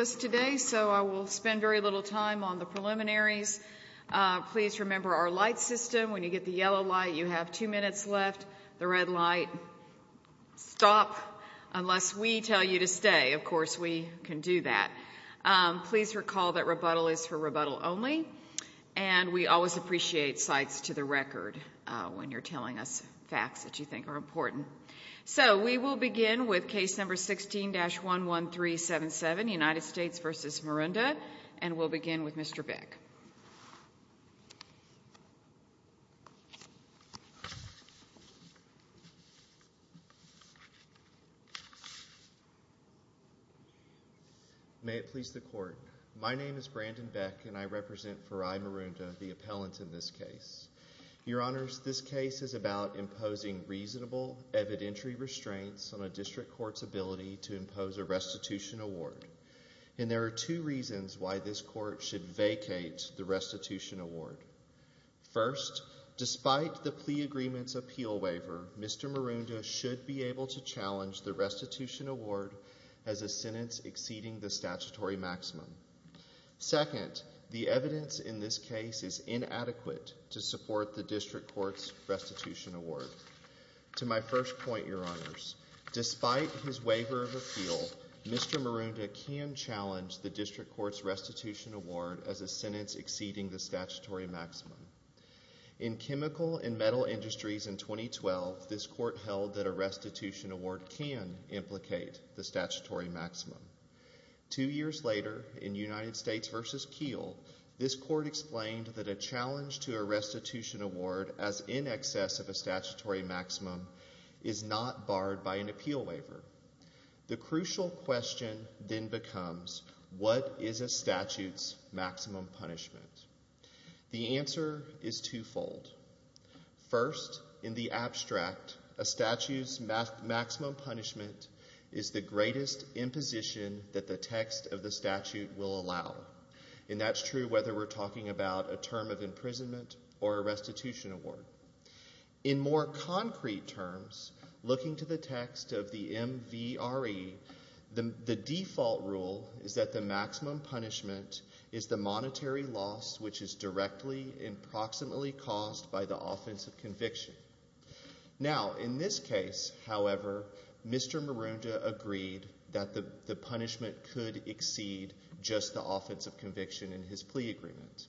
So I will spend very little time on the preliminaries. Please remember our light system. When you get the yellow light, you have two minutes left. The red light, stop, unless we tell you to stay. Of course, we can do that. Please recall that rebuttal is for rebuttal only, and we always appreciate sights to the record when you're telling us facts that you think are important. So we will begin with case number 16-11377, United States v. Marunda, and we'll begin with Mr. Beck. May it please the Court. My name is Brandon Beck, and I represent Farai Marunda, the appellant in this case. Your Honors, this case is about imposing reasonable evidentiary restraints on a district court's ability to impose a restitution award, and there are two reasons why this court should vacate the restitution award. First, despite the plea agreement's appeal waiver, Mr. Marunda should be able to challenge the restitution award as a sentence exceeding the statutory maximum. Second, the evidence in this case is inadequate to support the district court's restitution award. To my first point, Your Honors, despite his waiver of appeal, Mr. Marunda can challenge the district court's restitution award as a sentence exceeding the statutory maximum. In Chemical and Metal Industries in 2012, this court held that a restitution award can implicate the statutory maximum. Two years later, in United States v. Keel, this court explained that a challenge to a restitution award as in excess of a statutory maximum is not barred by an appeal waiver. The crucial question then becomes, what is a statute's maximum punishment? The answer is twofold. First, in the abstract, a statute's maximum punishment is the greatest imposition that the text of the statute will allow, and that's true whether we're talking about a term of imprisonment or a restitution award. In more concrete terms, looking to the text of the MVRE, the default rule is that the maximum punishment is the monetary loss which is directly and proximately caused by the offense of conviction. Now, in this case, however, Mr. Marunda agreed that the punishment could exceed just the offense of conviction in his plea agreement.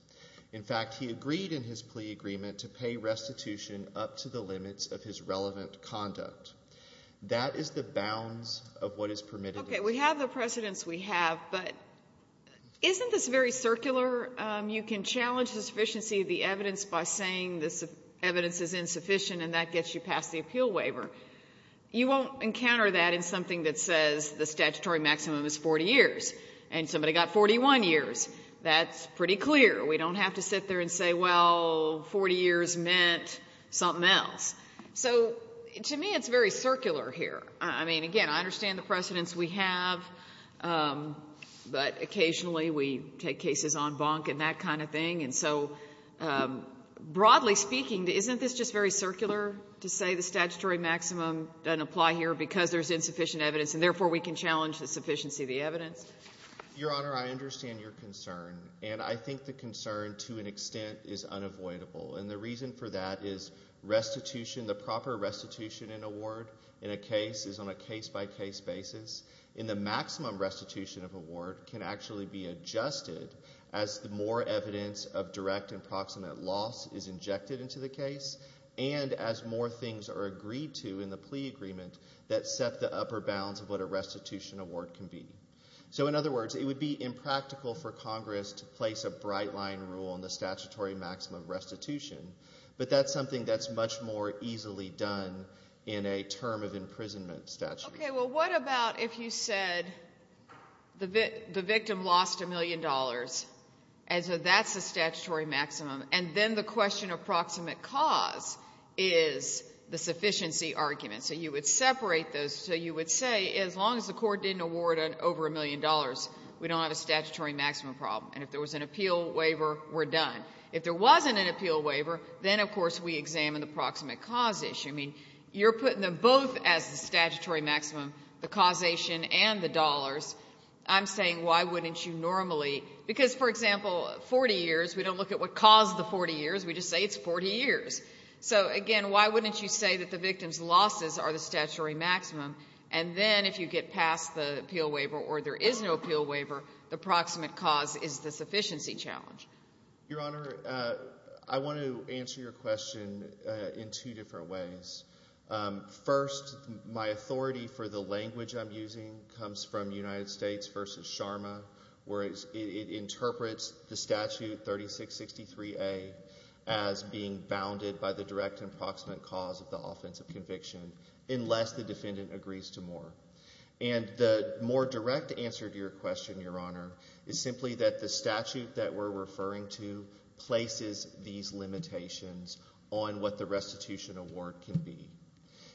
In fact, he agreed in his plea agreement to pay restitution up to the limits of his relevant conduct. That is the bounds of what is permitted. Okay. We have the precedents we have, but isn't this very circular? You can challenge the sufficiency of the evidence by saying this evidence is insufficient and that gets you past the appeal waiver. You won't encounter that in something that says the statutory maximum is 40 years, and somebody got 41 years. That's pretty clear. We don't have to sit there and say, well, 40 years meant something else. So to me, it's very circular here. I mean, again, I understand the precedents we have, but occasionally we take cases on bonk and that kind of thing, and so broadly speaking, isn't this just very circular to say the statutory maximum doesn't apply here because there's insufficient evidence and therefore we can challenge the sufficiency of the evidence? Your Honor, I understand your concern, and I think the concern to an extent is unavoidable, and the reason for that is restitution, the proper restitution in a ward in a case is on a case-by-case basis, and the maximum restitution of a ward can actually be adjusted as more evidence of direct and proximate loss is injected into the case and as more things are agreed to in the plea agreement that set the upper bounds of what a restitution award can be. So in other words, it would be impractical for Congress to place a bright-line rule on the statutory maximum restitution, but that's something that's much more easily done in a term of imprisonment statute. Okay, well, what about if you said the victim lost $1 million, and so that's the statutory maximum, and then the question of proximate cause is the sufficiency argument? So you would separate those, so you would say as long as the court didn't award over $1 million, we don't have a statutory maximum problem, and if there was an appeal waiver, we're done. If there wasn't an appeal waiver, then, of course, we examine the proximate cause issue. I mean, you're putting them both as the statutory maximum, the causation and the dollars. I'm saying why wouldn't you normally... Because, for example, 40 years, we don't look at what caused the 40 years, we just say it's 40 years. So, again, why wouldn't you say that the victim's losses are the statutory maximum, and then if you get past the appeal waiver or there is no appeal waiver, the proximate cause is the sufficiency challenge? Your Honor, I want to answer your question in two different ways. First, my authority for the language I'm using comes from United States v. Sharma, where it interprets the statute 3663A as being bounded by the direct and proximate cause of the offensive conviction unless the defendant agrees to more. And the more direct answer to your question, Your Honor, is simply that the statute that we're referring to places these limitations on what the restitution award can be.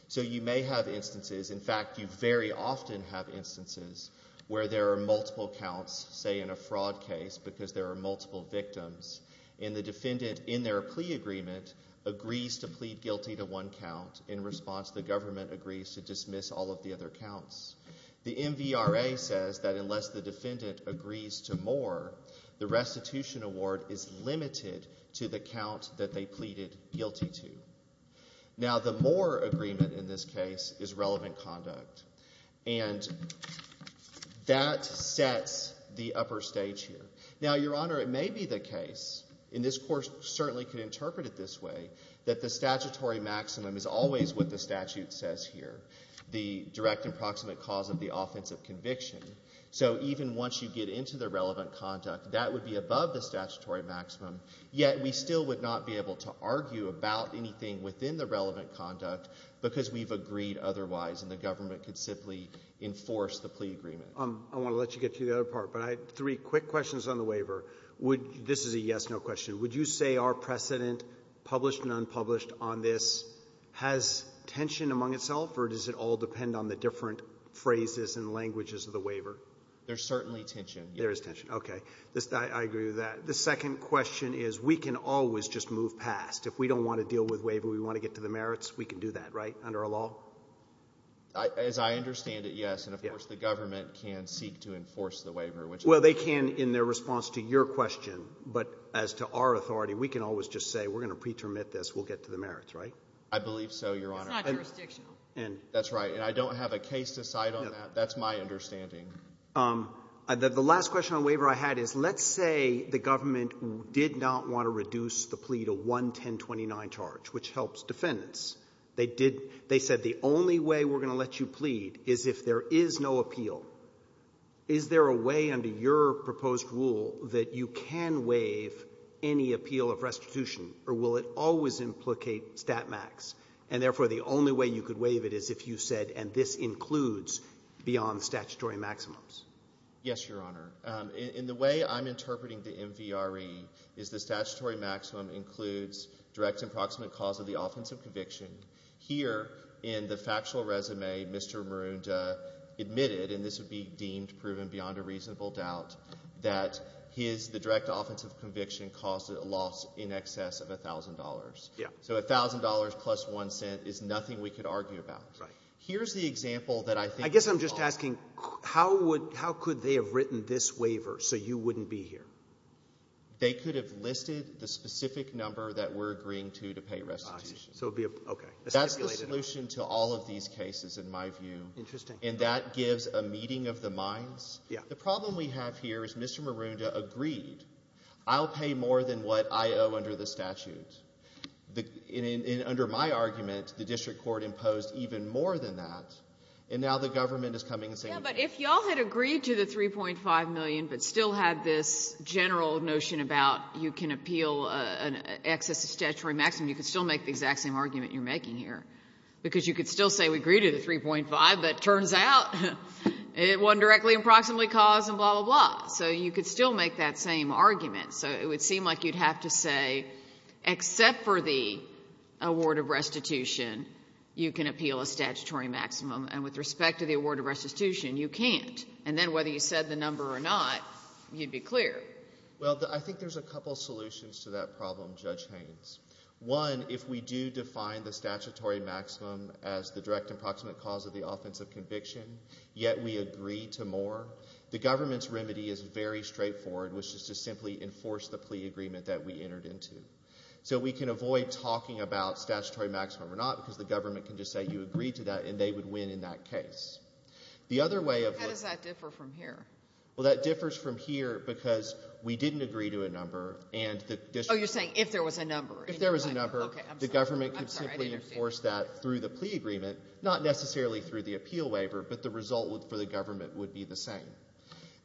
So you may have instances... In fact, you very often have instances where there are multiple counts, say, in a fraud case, because there are multiple victims, and the defendant, in their plea agreement, agrees to plead guilty to one count in response the government agrees to dismiss all of the other counts. The MVRA says that unless the defendant agrees to more, the restitution award is limited to the count that they pleaded guilty to. Now, the more agreement in this case is relevant conduct, and that sets the upper stage here. Now, Your Honor, it may be the case, and this Court certainly can interpret it this way, that the statutory maximum is always what the statute says here, the direct and proximate cause of the offensive conviction. So even once you get into the relevant conduct, that would be above the statutory maximum yet we still would not be able to argue about anything within the relevant conduct because we've agreed otherwise, and the government could simply enforce the plea agreement. I want to let you get to the other part, but I have three quick questions on the waiver. This is a yes-no question. Would you say our precedent, published and unpublished, on this has tension among itself, or does it all depend on the different phrases and languages of the waiver? There's certainly tension, yes. There is tension, okay. I agree with that. The second question is we can always just move past. If we don't want to deal with waiver, we want to get to the merits, we can do that, right, under our law? As I understand it, yes, and, of course, the government can seek to enforce the waiver. Well, they can in their response to your question, but as to our authority, we can always just say we're going to pretermit this, we'll get to the merits, right? I believe so, Your Honor. It's not jurisdictional. That's right. And I don't have a case to cite on that. That's my understanding. The last question on waiver I had is let's say the government did not want to reduce the plea to one 1029 charge, which helps defendants. They said the only way we're going to let you plead is if there is no appeal. Is there a way under your proposed rule that you can waive any appeal of restitution, or will it always implicate stat max, and therefore the only way you could waive it is if you said, and this includes beyond statutory maximums? Yes, Your Honor. In the way I'm interpreting the MVRE is the statutory maximum includes direct and proximate cause of the offensive conviction. Here in the factual resume, Mr. Maroondah admitted, and this would be deemed proven beyond a reasonable doubt, that the direct offensive conviction caused a loss in excess of $1,000. So $1,000 plus one cent is nothing we could argue about. Right. Here's the example that I think is wrong. I'm asking, how could they have written this waiver so you wouldn't be here? They could have listed the specific number that we're agreeing to to pay restitution. Okay. That's the solution to all of these cases, in my view. Interesting. And that gives a meeting of the minds. The problem we have here is Mr. Maroondah agreed. I'll pay more than what I owe under the statute. And under my argument, the district court imposed even more than that, and now the government is coming and saying... Yeah, but if y'all had agreed to the $3.5 million but still had this general notion about you can appeal an excess of statutory maximum, you could still make the exact same argument you're making here. Because you could still say we agree to the $3.5 million, but it turns out it wasn't directly and proximately caused, and blah, blah, blah. So you could still make that same argument. So it would seem like you'd have to say, except for the award of restitution, you can appeal a statutory maximum, and with respect to the award of restitution, you can't. And then whether you said the number or not, you'd be clear. Well, I think there's a couple solutions to that problem, Judge Haynes. One, if we do define the statutory maximum as the direct and proximate cause of the offense of conviction, yet we agree to more, the government's remedy is very straightforward, which is to simply enforce the plea agreement that we entered into. So we can avoid talking about statutory maximum or not because the government can just say you agreed to that, and they would win in that case. How does that differ from here? Well, that differs from here because we didn't agree to a number. Oh, you're saying if there was a number. If there was a number, the government could simply enforce that through the plea agreement, not necessarily through the appeal waiver, but the result for the government would be the same.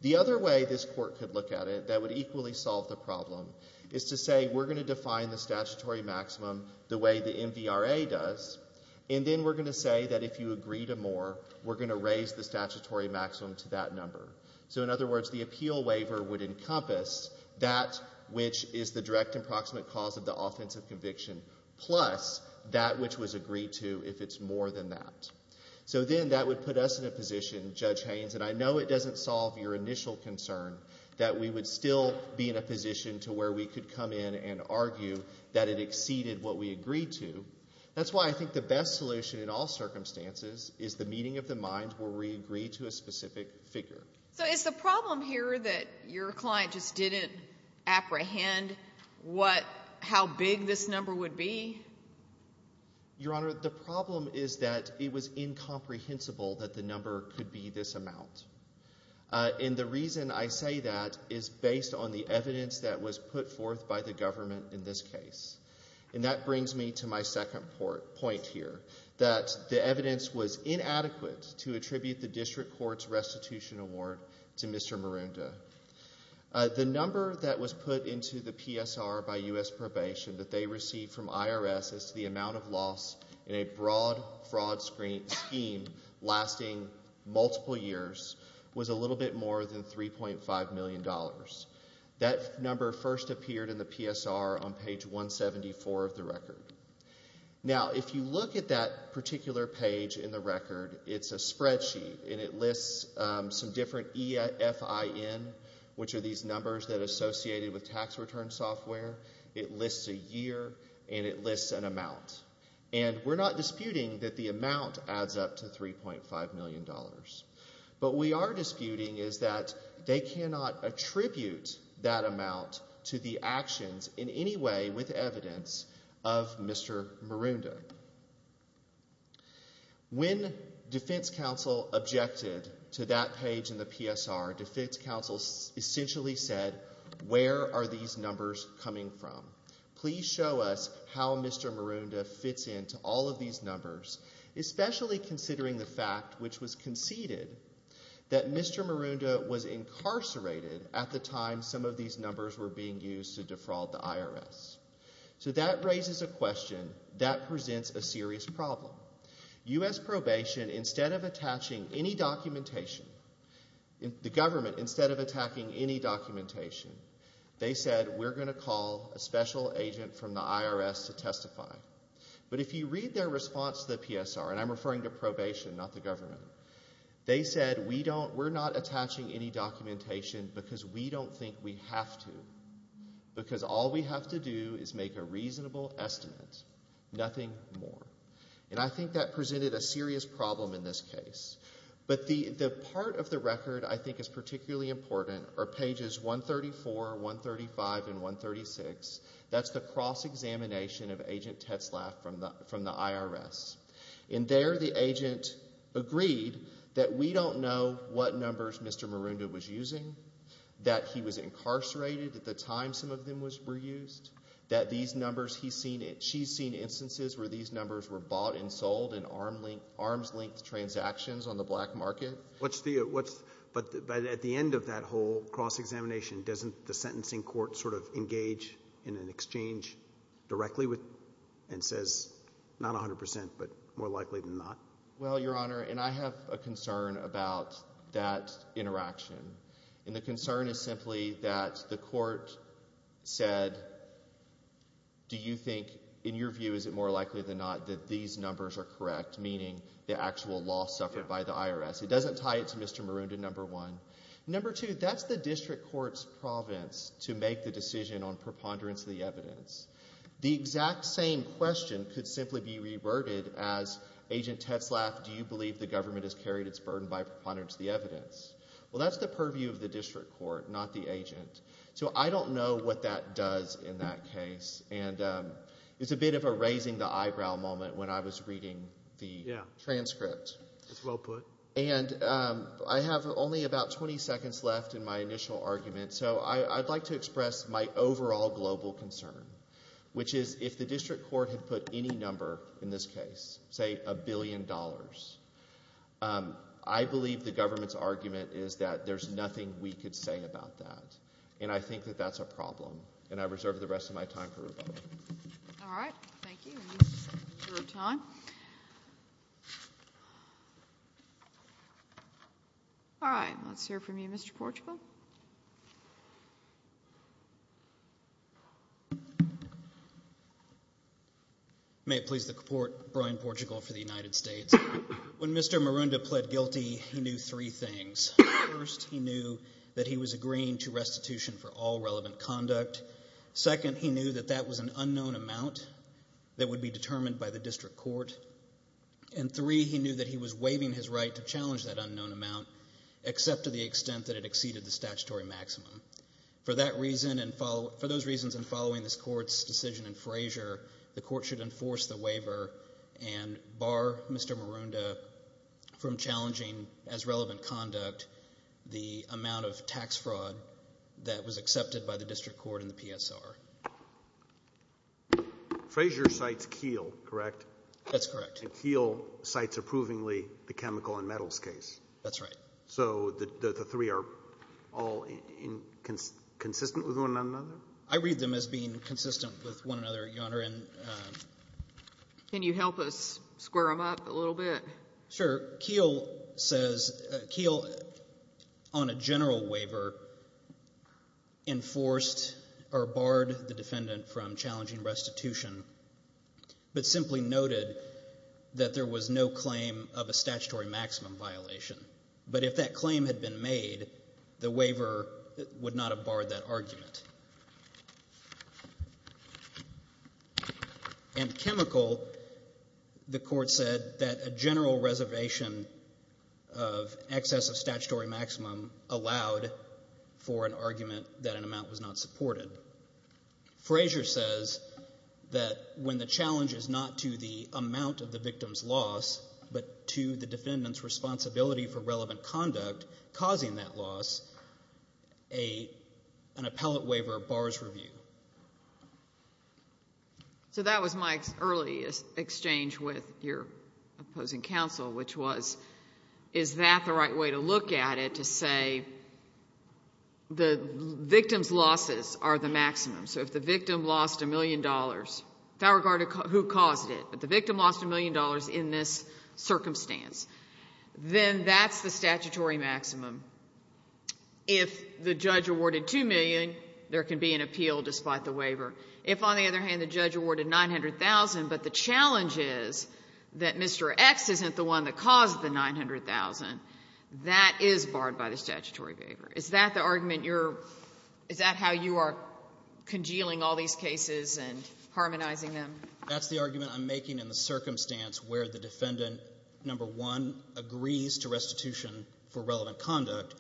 The other way this court could look at it that would equally solve the problem is to say we're going to define the statutory maximum the way the MVRA does, and then we're going to say that if you agree to more, we're going to raise the statutory maximum to that number. So in other words, the appeal waiver would encompass that which is the direct and proximate cause of the offense of conviction plus that which was agreed to if it's more than that. So then that would put us in a position, Judge Haynes, and I know it doesn't solve your initial concern that we would still be in a position to where we could come in and argue that it exceeded what we agreed to. That's why I think the best solution in all circumstances is the meeting of the mind where we agree to a specific figure. So is the problem here that your client just didn't apprehend how big this number would be? Your Honor, the problem is that it was incomprehensible that the number could be this amount. And the reason I say that is based on the evidence that was put forth by the government in this case. And that brings me to my second point here, that the evidence was inadequate to attribute the district court's restitution award to Mr. Marunda. The number that was put into the PSR by U.S. Probation that they received from IRS as to the amount of loss in a broad fraud scheme lasting multiple years was a little bit more than $3.5 million. That number first appeared in the PSR on page 174 of the record. Now, if you look at that particular page in the record, it's a spreadsheet, and it lists some different EFIN, which are these numbers that are associated with tax return software. It lists a year, and it lists an amount. And we're not disputing that the amount adds up to $3.5 million. But what we are disputing is that they cannot attribute that amount to the actions in any way with evidence of Mr. Marunda. When defense counsel objected to that page in the PSR, defense counsel essentially said, where are these numbers coming from? Please show us how Mr. Marunda fits into all of these numbers, especially considering the fact which was conceded that Mr. Marunda was incarcerated at the time some of these numbers were being used to defraud the IRS. So that raises a question that presents a serious problem. U.S. Probation, instead of attaching any documentation, the government, instead of attacking any documentation, they said, we're going to call a special agent from the IRS to testify. But if you read their response to the PSR, and I'm referring to probation, not the government, they said, we're not attaching any documentation because we don't think we have to, because all we have to do is make a reasonable estimate, nothing more. And I think that presented a serious problem in this case. But the part of the record I think is particularly important are pages 134, 135, and 136. That's the cross-examination of Agent Tetzlaff from the IRS. And there the agent agreed that we don't know what numbers Mr. Marunda was using, that he was incarcerated at the time some of them were used, that these numbers he's seen, she's seen instances where these numbers were bought and sold in arm's-length transactions on the black market. But at the end of that whole cross-examination, doesn't the sentencing court sort of engage in an exchange directly and says, not 100%, but more likely than not? Well, Your Honor, and I have a concern about that interaction. And the concern is simply that the court said, do you think, in your view, is it more likely than not that these numbers are correct, meaning the actual loss suffered by the IRS? It doesn't tie it to Mr. Marunda, number one. Number two, that's the district court's province to make the decision on preponderance of the evidence. The exact same question could simply be reverted as, Agent Tetzlaff, do you believe the government has carried its burden by preponderance of the evidence? Well, that's the purview of the district court, not the agent. So I don't know what that does in that case. And it's a bit of a raising-the-eyebrow moment when I was reading the transcript. It's well put. And I have only about 20 seconds left in my initial argument, so I'd like to express my overall global concern, which is if the district court had put any number in this case, say a billion dollars, I believe the government's argument is that there's nothing we could say about that. And I think that that's a problem. And I reserve the rest of my time for rebuttal. All right. Thank you. We're out of time. All right, let's hear from you, Mr. Portugal. May it please the Court, Brian Portugal for the United States. When Mr. Marunda pled guilty, he knew three things. First, he knew that he was agreeing to restitution for all relevant conduct. Second, he knew that that was an unknown amount that would be determined by the district court. And three, he knew that he was waiving his right to challenge that unknown amount, except to the extent that it exceeded the statutory maximum. For those reasons and following this court's decision in Frazier, the court should enforce the waiver and bar Mr. Marunda from challenging, as relevant conduct, the amount of tax fraud that was accepted by the district court during the PSR. Frazier cites Keel, correct? That's correct. And Keel cites approvingly the chemical and metals case. That's right. So the three are all consistent with one another? I read them as being consistent with one another, Your Honor. Can you help us square them up a little bit? Sure. Keel on a general waiver enforced or barred the defendant from challenging restitution, but simply noted that there was no claim of a statutory maximum violation. But if that claim had been made, and chemical, the court said that a general reservation of excess of statutory maximum allowed for an argument that an amount was not supported. Frazier says that when the challenge is not to the amount of the victim's loss, but to the defendant's responsibility for relevant conduct causing that loss, an appellate waiver bars review. So that was my early exchange with your opposing counsel, which was is that the right way to look at it, to say the victim's losses are the maximum. So if the victim lost $1 million, without regard to who caused it, but the victim lost $1 million in this circumstance, then that's the statutory maximum. If the judge awarded $2 million, there can be an appeal despite the waiver. If, on the other hand, the judge awarded $900,000, but the challenge is that Mr. X isn't the one that caused the $900,000, that is barred by the statutory waiver. Is that the argument you're – is that how you are congealing all these cases and harmonizing them? That's the argument I'm making in the circumstance where the defendant, number one, agrees to restitution for relevant conduct,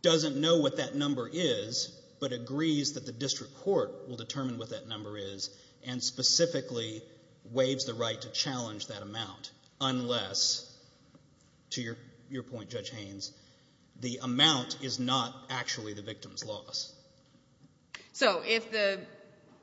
doesn't know what that number is, but agrees that the district court will determine what that number is and specifically waives the right to challenge that amount, unless, to your point, Judge Haynes, the amount is not actually the victim's loss. So if the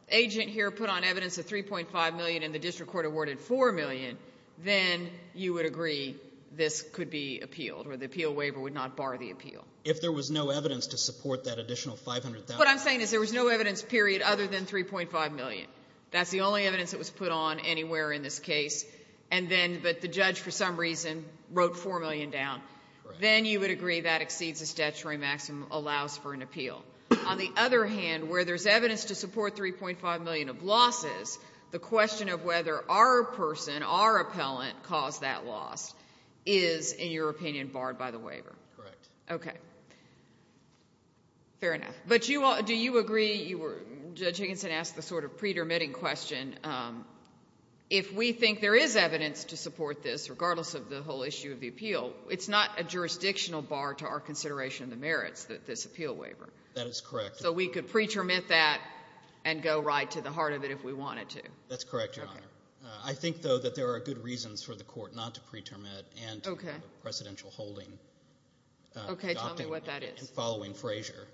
agent here put on evidence a $3.5 million and the district court awarded $4 million, then you would agree this could be appealed or the appeal waiver would not bar the appeal. If there was no evidence to support that additional $500,000. What I'm saying is there was no evidence, period, other than $3.5 million. That's the only evidence that was put on anywhere in this case, but the judge, for some reason, wrote $4 million down. Then you would agree that exceeds the statutory maximum allows for an appeal. On the other hand, where there's evidence to support $3.5 million of losses, the question of whether our person, our appellant, caused that loss is, in your opinion, barred by the waiver. Correct. Okay. Fair enough. But do you agree, Judge Higginson asked the sort of pre-termitting question, if we think there is evidence to support this, regardless of the whole issue of the appeal, it's not a jurisdictional bar to our consideration of the merits of this appeal waiver. That is correct. So we could pre-termit that and go right to the heart of it if we wanted to. That's correct, Your Honor. I think, though, that there are good reasons for the court not to pre-termit and to have a precedential holding. Okay. Tell me what that is. Following Frazier.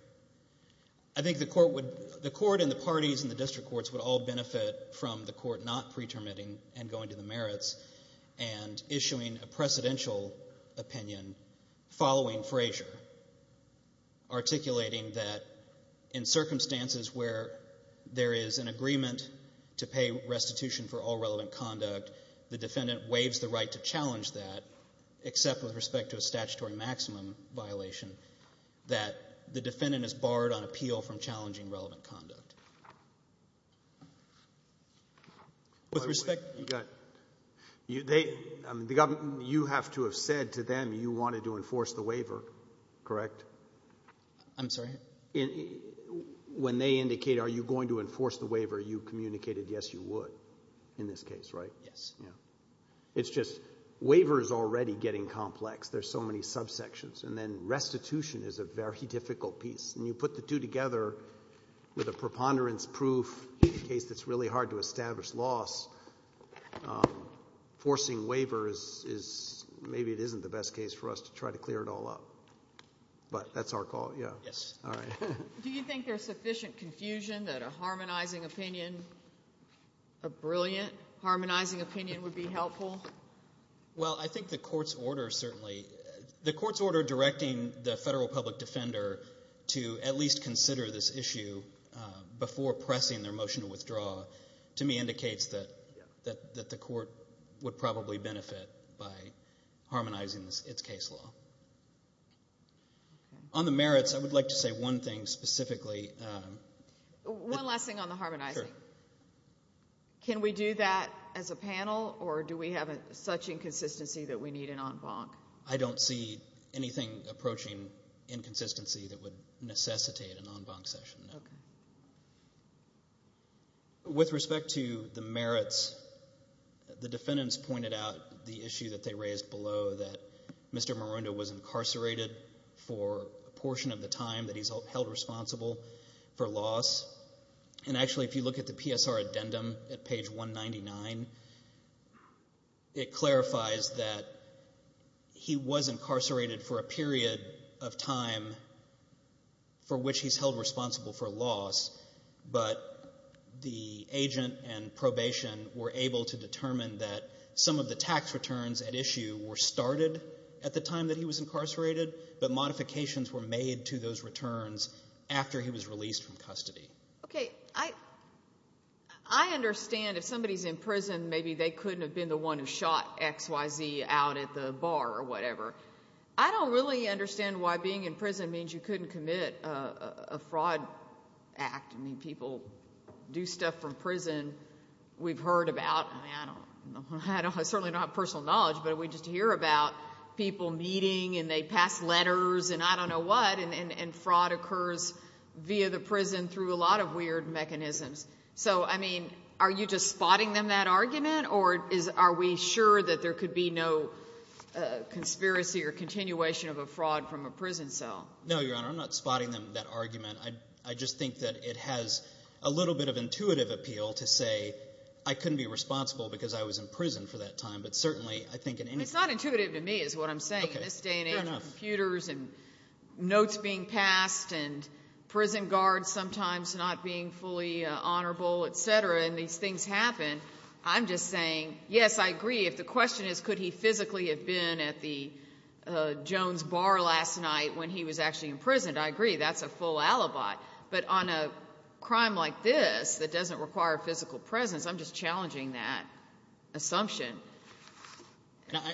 I think the court and the parties and the district courts would all benefit from the court not pre-termiting and going to the merits and issuing a precedential opinion following Frazier, articulating that in circumstances where there is an agreement to pay restitution for all relevant conduct, the defendant waives the right to challenge that, except with respect to a statutory maximum violation, that the defendant is barred on appeal from challenging relevant conduct. With respect to the government, you have to have said to them you wanted to enforce the waiver, correct? I'm sorry? When they indicate, are you going to enforce the waiver, you communicated yes, you would in this case, right? Yes. Yeah. It's just waiver is already getting complex. There are so many subsections. And then restitution is a very difficult piece. And you put the two together with a preponderance proof in a case that's really hard to establish loss, forcing waiver is maybe it isn't the best case for us to try to clear it all up. But that's our call. Yes. All right. Do you think there's sufficient confusion that a harmonizing opinion, a brilliant harmonizing opinion would be helpful? Well, I think the court's order certainly, the court's order directing the federal public defender to at least consider this issue before pressing their motion to withdraw to me indicates that the court would probably benefit by harmonizing its case law. On the merits, I would like to say one thing specifically. One last thing on the harmonizing. Sure. Can we do that as a panel, or do we have such inconsistency that we need an en banc? I don't see anything approaching inconsistency that would necessitate an en banc session, no. Okay. With respect to the merits, the defendants pointed out the issue that they raised below, that Mr. Marundo was incarcerated for a portion of the time that he's held responsible for loss. And actually, if you look at the PSR addendum at page 199, it clarifies that he was incarcerated for a period of time for which he's held responsible for loss, but the agent and probation were able to determine that some of the tax returns at issue were started at the time that he was incarcerated, but modifications were made to those returns after he was released from custody. Okay. I understand if somebody's in prison, maybe they couldn't have been the one who shot XYZ out at the bar or whatever. I don't really understand why being in prison means you couldn't commit a fraud act. I mean, people do stuff from prison. We've heard about, I mean, I certainly don't have personal knowledge, but we just hear about people meeting and they pass letters and I don't know what, and fraud occurs via the prison through a lot of weird mechanisms. So, I mean, are you just spotting them that argument, or are we sure that there could be no conspiracy or continuation of a fraud from a prison cell? No, Your Honor. I'm not spotting them that argument. I just think that it has a little bit of intuitive appeal to say I couldn't be responsible because I was in prison for that time, but certainly I think in any case. It's not intuitive to me is what I'm saying. Okay. Fair enough. This day and age, computers and notes being passed and prison guards sometimes not being fully honorable, et cetera, and these things happen, I'm just saying, yes, I agree. If the question is could he physically have been at the Jones Bar last night when he was actually imprisoned, I agree. That's a full alibi. But on a crime like this that doesn't require physical presence, I'm just challenging that assumption.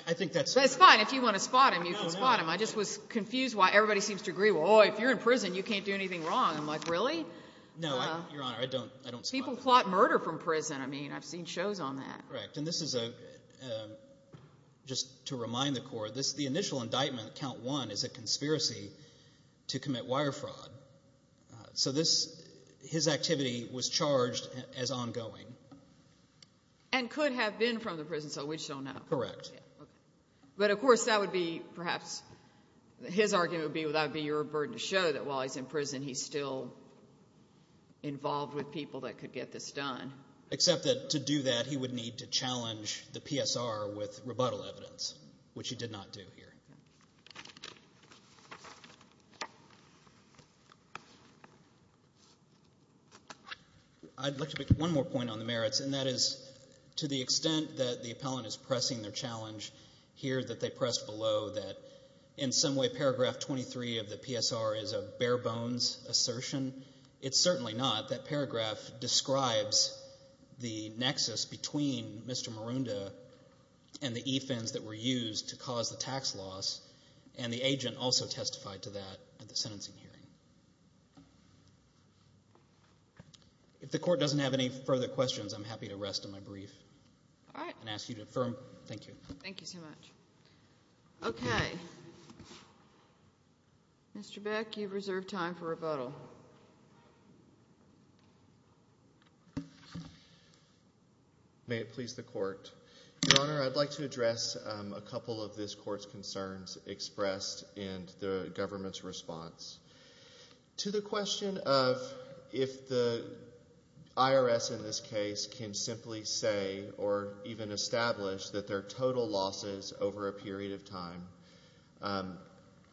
I think that's fair. It's fine. If you want to spot him, you can spot him. I just was confused why everybody seems to agree, well, if you're in prison, you can't do anything wrong. I'm like, really? No, Your Honor. I don't spot them. I've heard from prison. I mean, I've seen shows on that. Correct. And this is just to remind the Court, the initial indictment, Count 1, is a conspiracy to commit wire fraud. So his activity was charged as ongoing. And could have been from the prison, so we just don't know. Correct. Okay. But, of course, that would be perhaps his argument would be that would be your burden to show that while he's in prison he's still involved with people that could get this done. Except that to do that he would need to challenge the PSR with rebuttal evidence, which he did not do here. I'd like to make one more point on the merits, and that is to the extent that the appellant is pressing their challenge here that in some way paragraph 23 of the PSR is a bare-bones assertion. It's certainly not. That paragraph describes the nexus between Mr. Marunda and the e-fins that were used to cause the tax loss, and the agent also testified to that at the sentencing hearing. If the Court doesn't have any further questions, I'm happy to rest on my brief and ask you to affirm. Thank you. Thank you so much. Okay. Mr. Beck, you've reserved time for rebuttal. May it please the Court. Your Honor, I'd like to address a couple of this Court's concerns expressed in the government's response. To the question of if the IRS in this case can simply say or even establish that their total losses over a period of time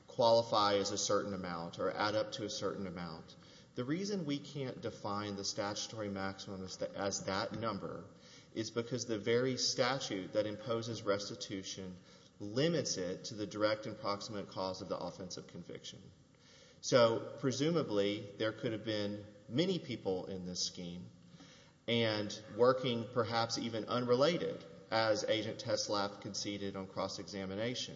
qualify as a certain amount or add up to a certain amount, the reason we can't define the statutory maximum as that number is because the very statute that imposes restitution limits it to the direct and proximate cause of the offensive conviction. So presumably there could have been many people in this scheme and working, perhaps even unrelated, as Agent Teslap conceded on cross-examination,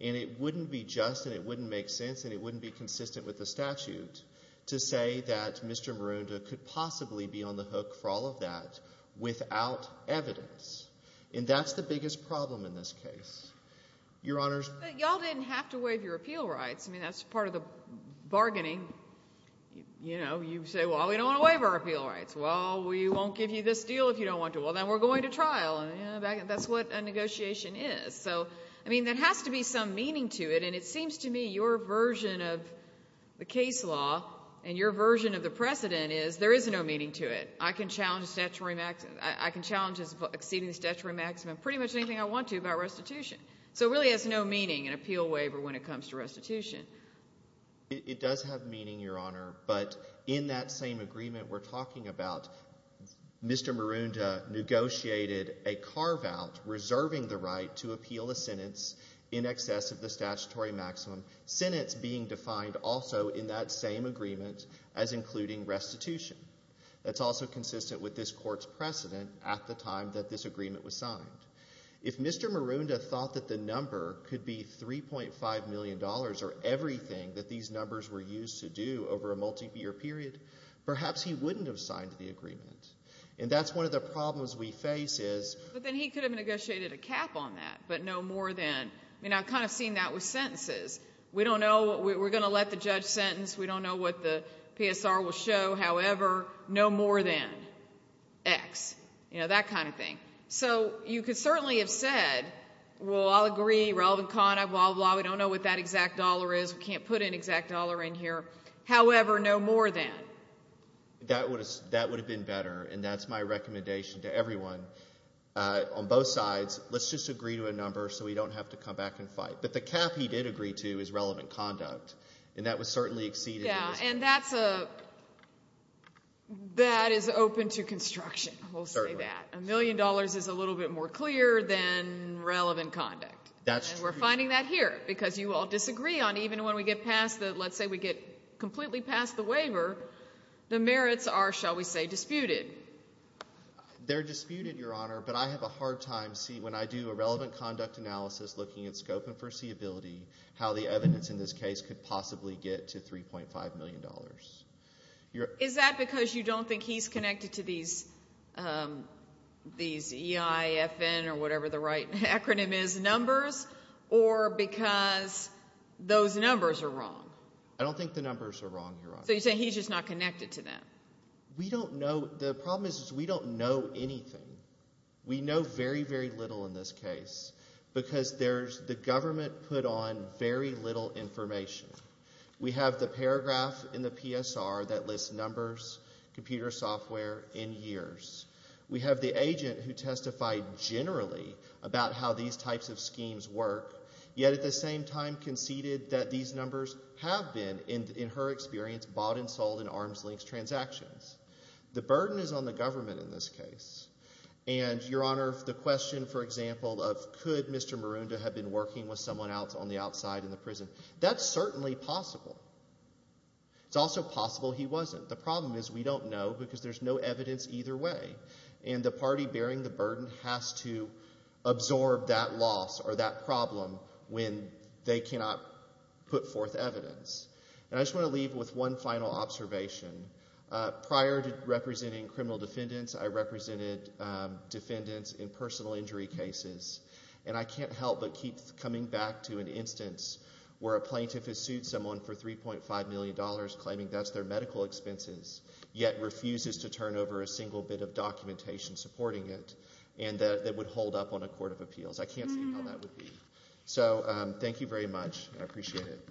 and it wouldn't be just and it wouldn't make sense and it wouldn't be consistent with the statute to say that Mr. Marunda could possibly be on the hook for all of that without evidence, and that's the biggest problem in this case. Your Honors. But y'all didn't have to waive your appeal rights. I mean, that's part of the bargaining. You know, you say, well, we don't want to waive our appeal rights. Well, we won't give you this deal if you don't want to. Well, then we're going to trial. That's what a negotiation is. So, I mean, there has to be some meaning to it, and it seems to me your version of the case law and your version of the precedent is there is no meaning to it. I can challenge exceeding the statutory maximum pretty much anything I want to about restitution. So it really has no meaning, an appeal waiver, when it comes to restitution. It does have meaning, Your Honor, but in that same agreement we're talking about, Mr. Marunda negotiated a carve-out reserving the right to appeal a sentence in excess of the statutory maximum, sentence being defined also in that same agreement as including restitution. That's also consistent with this court's precedent at the time that this agreement was signed. If Mr. Marunda thought that the number could be $3.5 million or everything that these numbers were used to do over a multi-year period, perhaps he wouldn't have signed the agreement. And that's one of the problems we face is... But then he could have negotiated a cap on that, but no more than... I mean, I've kind of seen that with sentences. We don't know... We're going to let the judge sentence. We don't know what the PSR will show. However, no more than X. You know, that kind of thing. So you could certainly have said, well, I'll agree, relevant conduct, blah, blah, blah. We don't know what that exact dollar is. We can't put an exact dollar in here. However, no more than. That would have been better, and that's my recommendation to everyone on both sides. Let's just agree to a number so we don't have to come back and fight. But the cap he did agree to is relevant conduct, and that would certainly exceed... Yeah, and that's a... That is open to construction. We'll say that. A million dollars is a little bit more clear than relevant conduct. And we're finding that here, because you all disagree on even when we get past the... Let's say we get completely past the waiver, the merits are, shall we say, disputed. They're disputed, Your Honor, but I have a hard time seeing... When I do a relevant conduct analysis looking at scope and foreseeability, how the evidence in this case could possibly get to $3.5 million. Is that because you don't think he's connected to these EI, FN, or whatever the right acronym is, numbers, or because those numbers are wrong? I don't think the numbers are wrong, Your Honor. So you're saying he's just not connected to them? We don't know. The problem is we don't know anything. We know very, very little in this case, because the government put on very little information. We have the paragraph in the PSR that lists numbers, computer software, in years. We have the agent who testified generally about how these types of schemes work, yet at the same time conceded that these numbers have been, in her experience, bought and sold in arm's-length transactions. The burden is on the government in this case. And, Your Honor, the question, for example, of could Mr. Marunda have been working with someone else on the outside in the prison, that's certainly possible. It's also possible he wasn't. The problem is we don't know, because there's no evidence either way, and the party bearing the burden has to absorb that loss or that problem when they cannot put forth evidence. And I just want to leave with one final observation. Prior to representing criminal defendants, I represented defendants in personal injury cases, and I can't help but keep coming back to an instance where a plaintiff has sued someone for $3.5 million, claiming that's their medical expenses, yet refuses to turn over a single bit of documentation supporting it, and that it would hold up on a court of appeals. I can't see how that would be. So thank you very much. I appreciate it.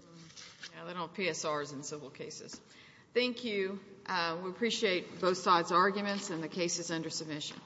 Now they don't have PSRs in civil cases. Thank you. We appreciate both sides' arguments and the cases under submission.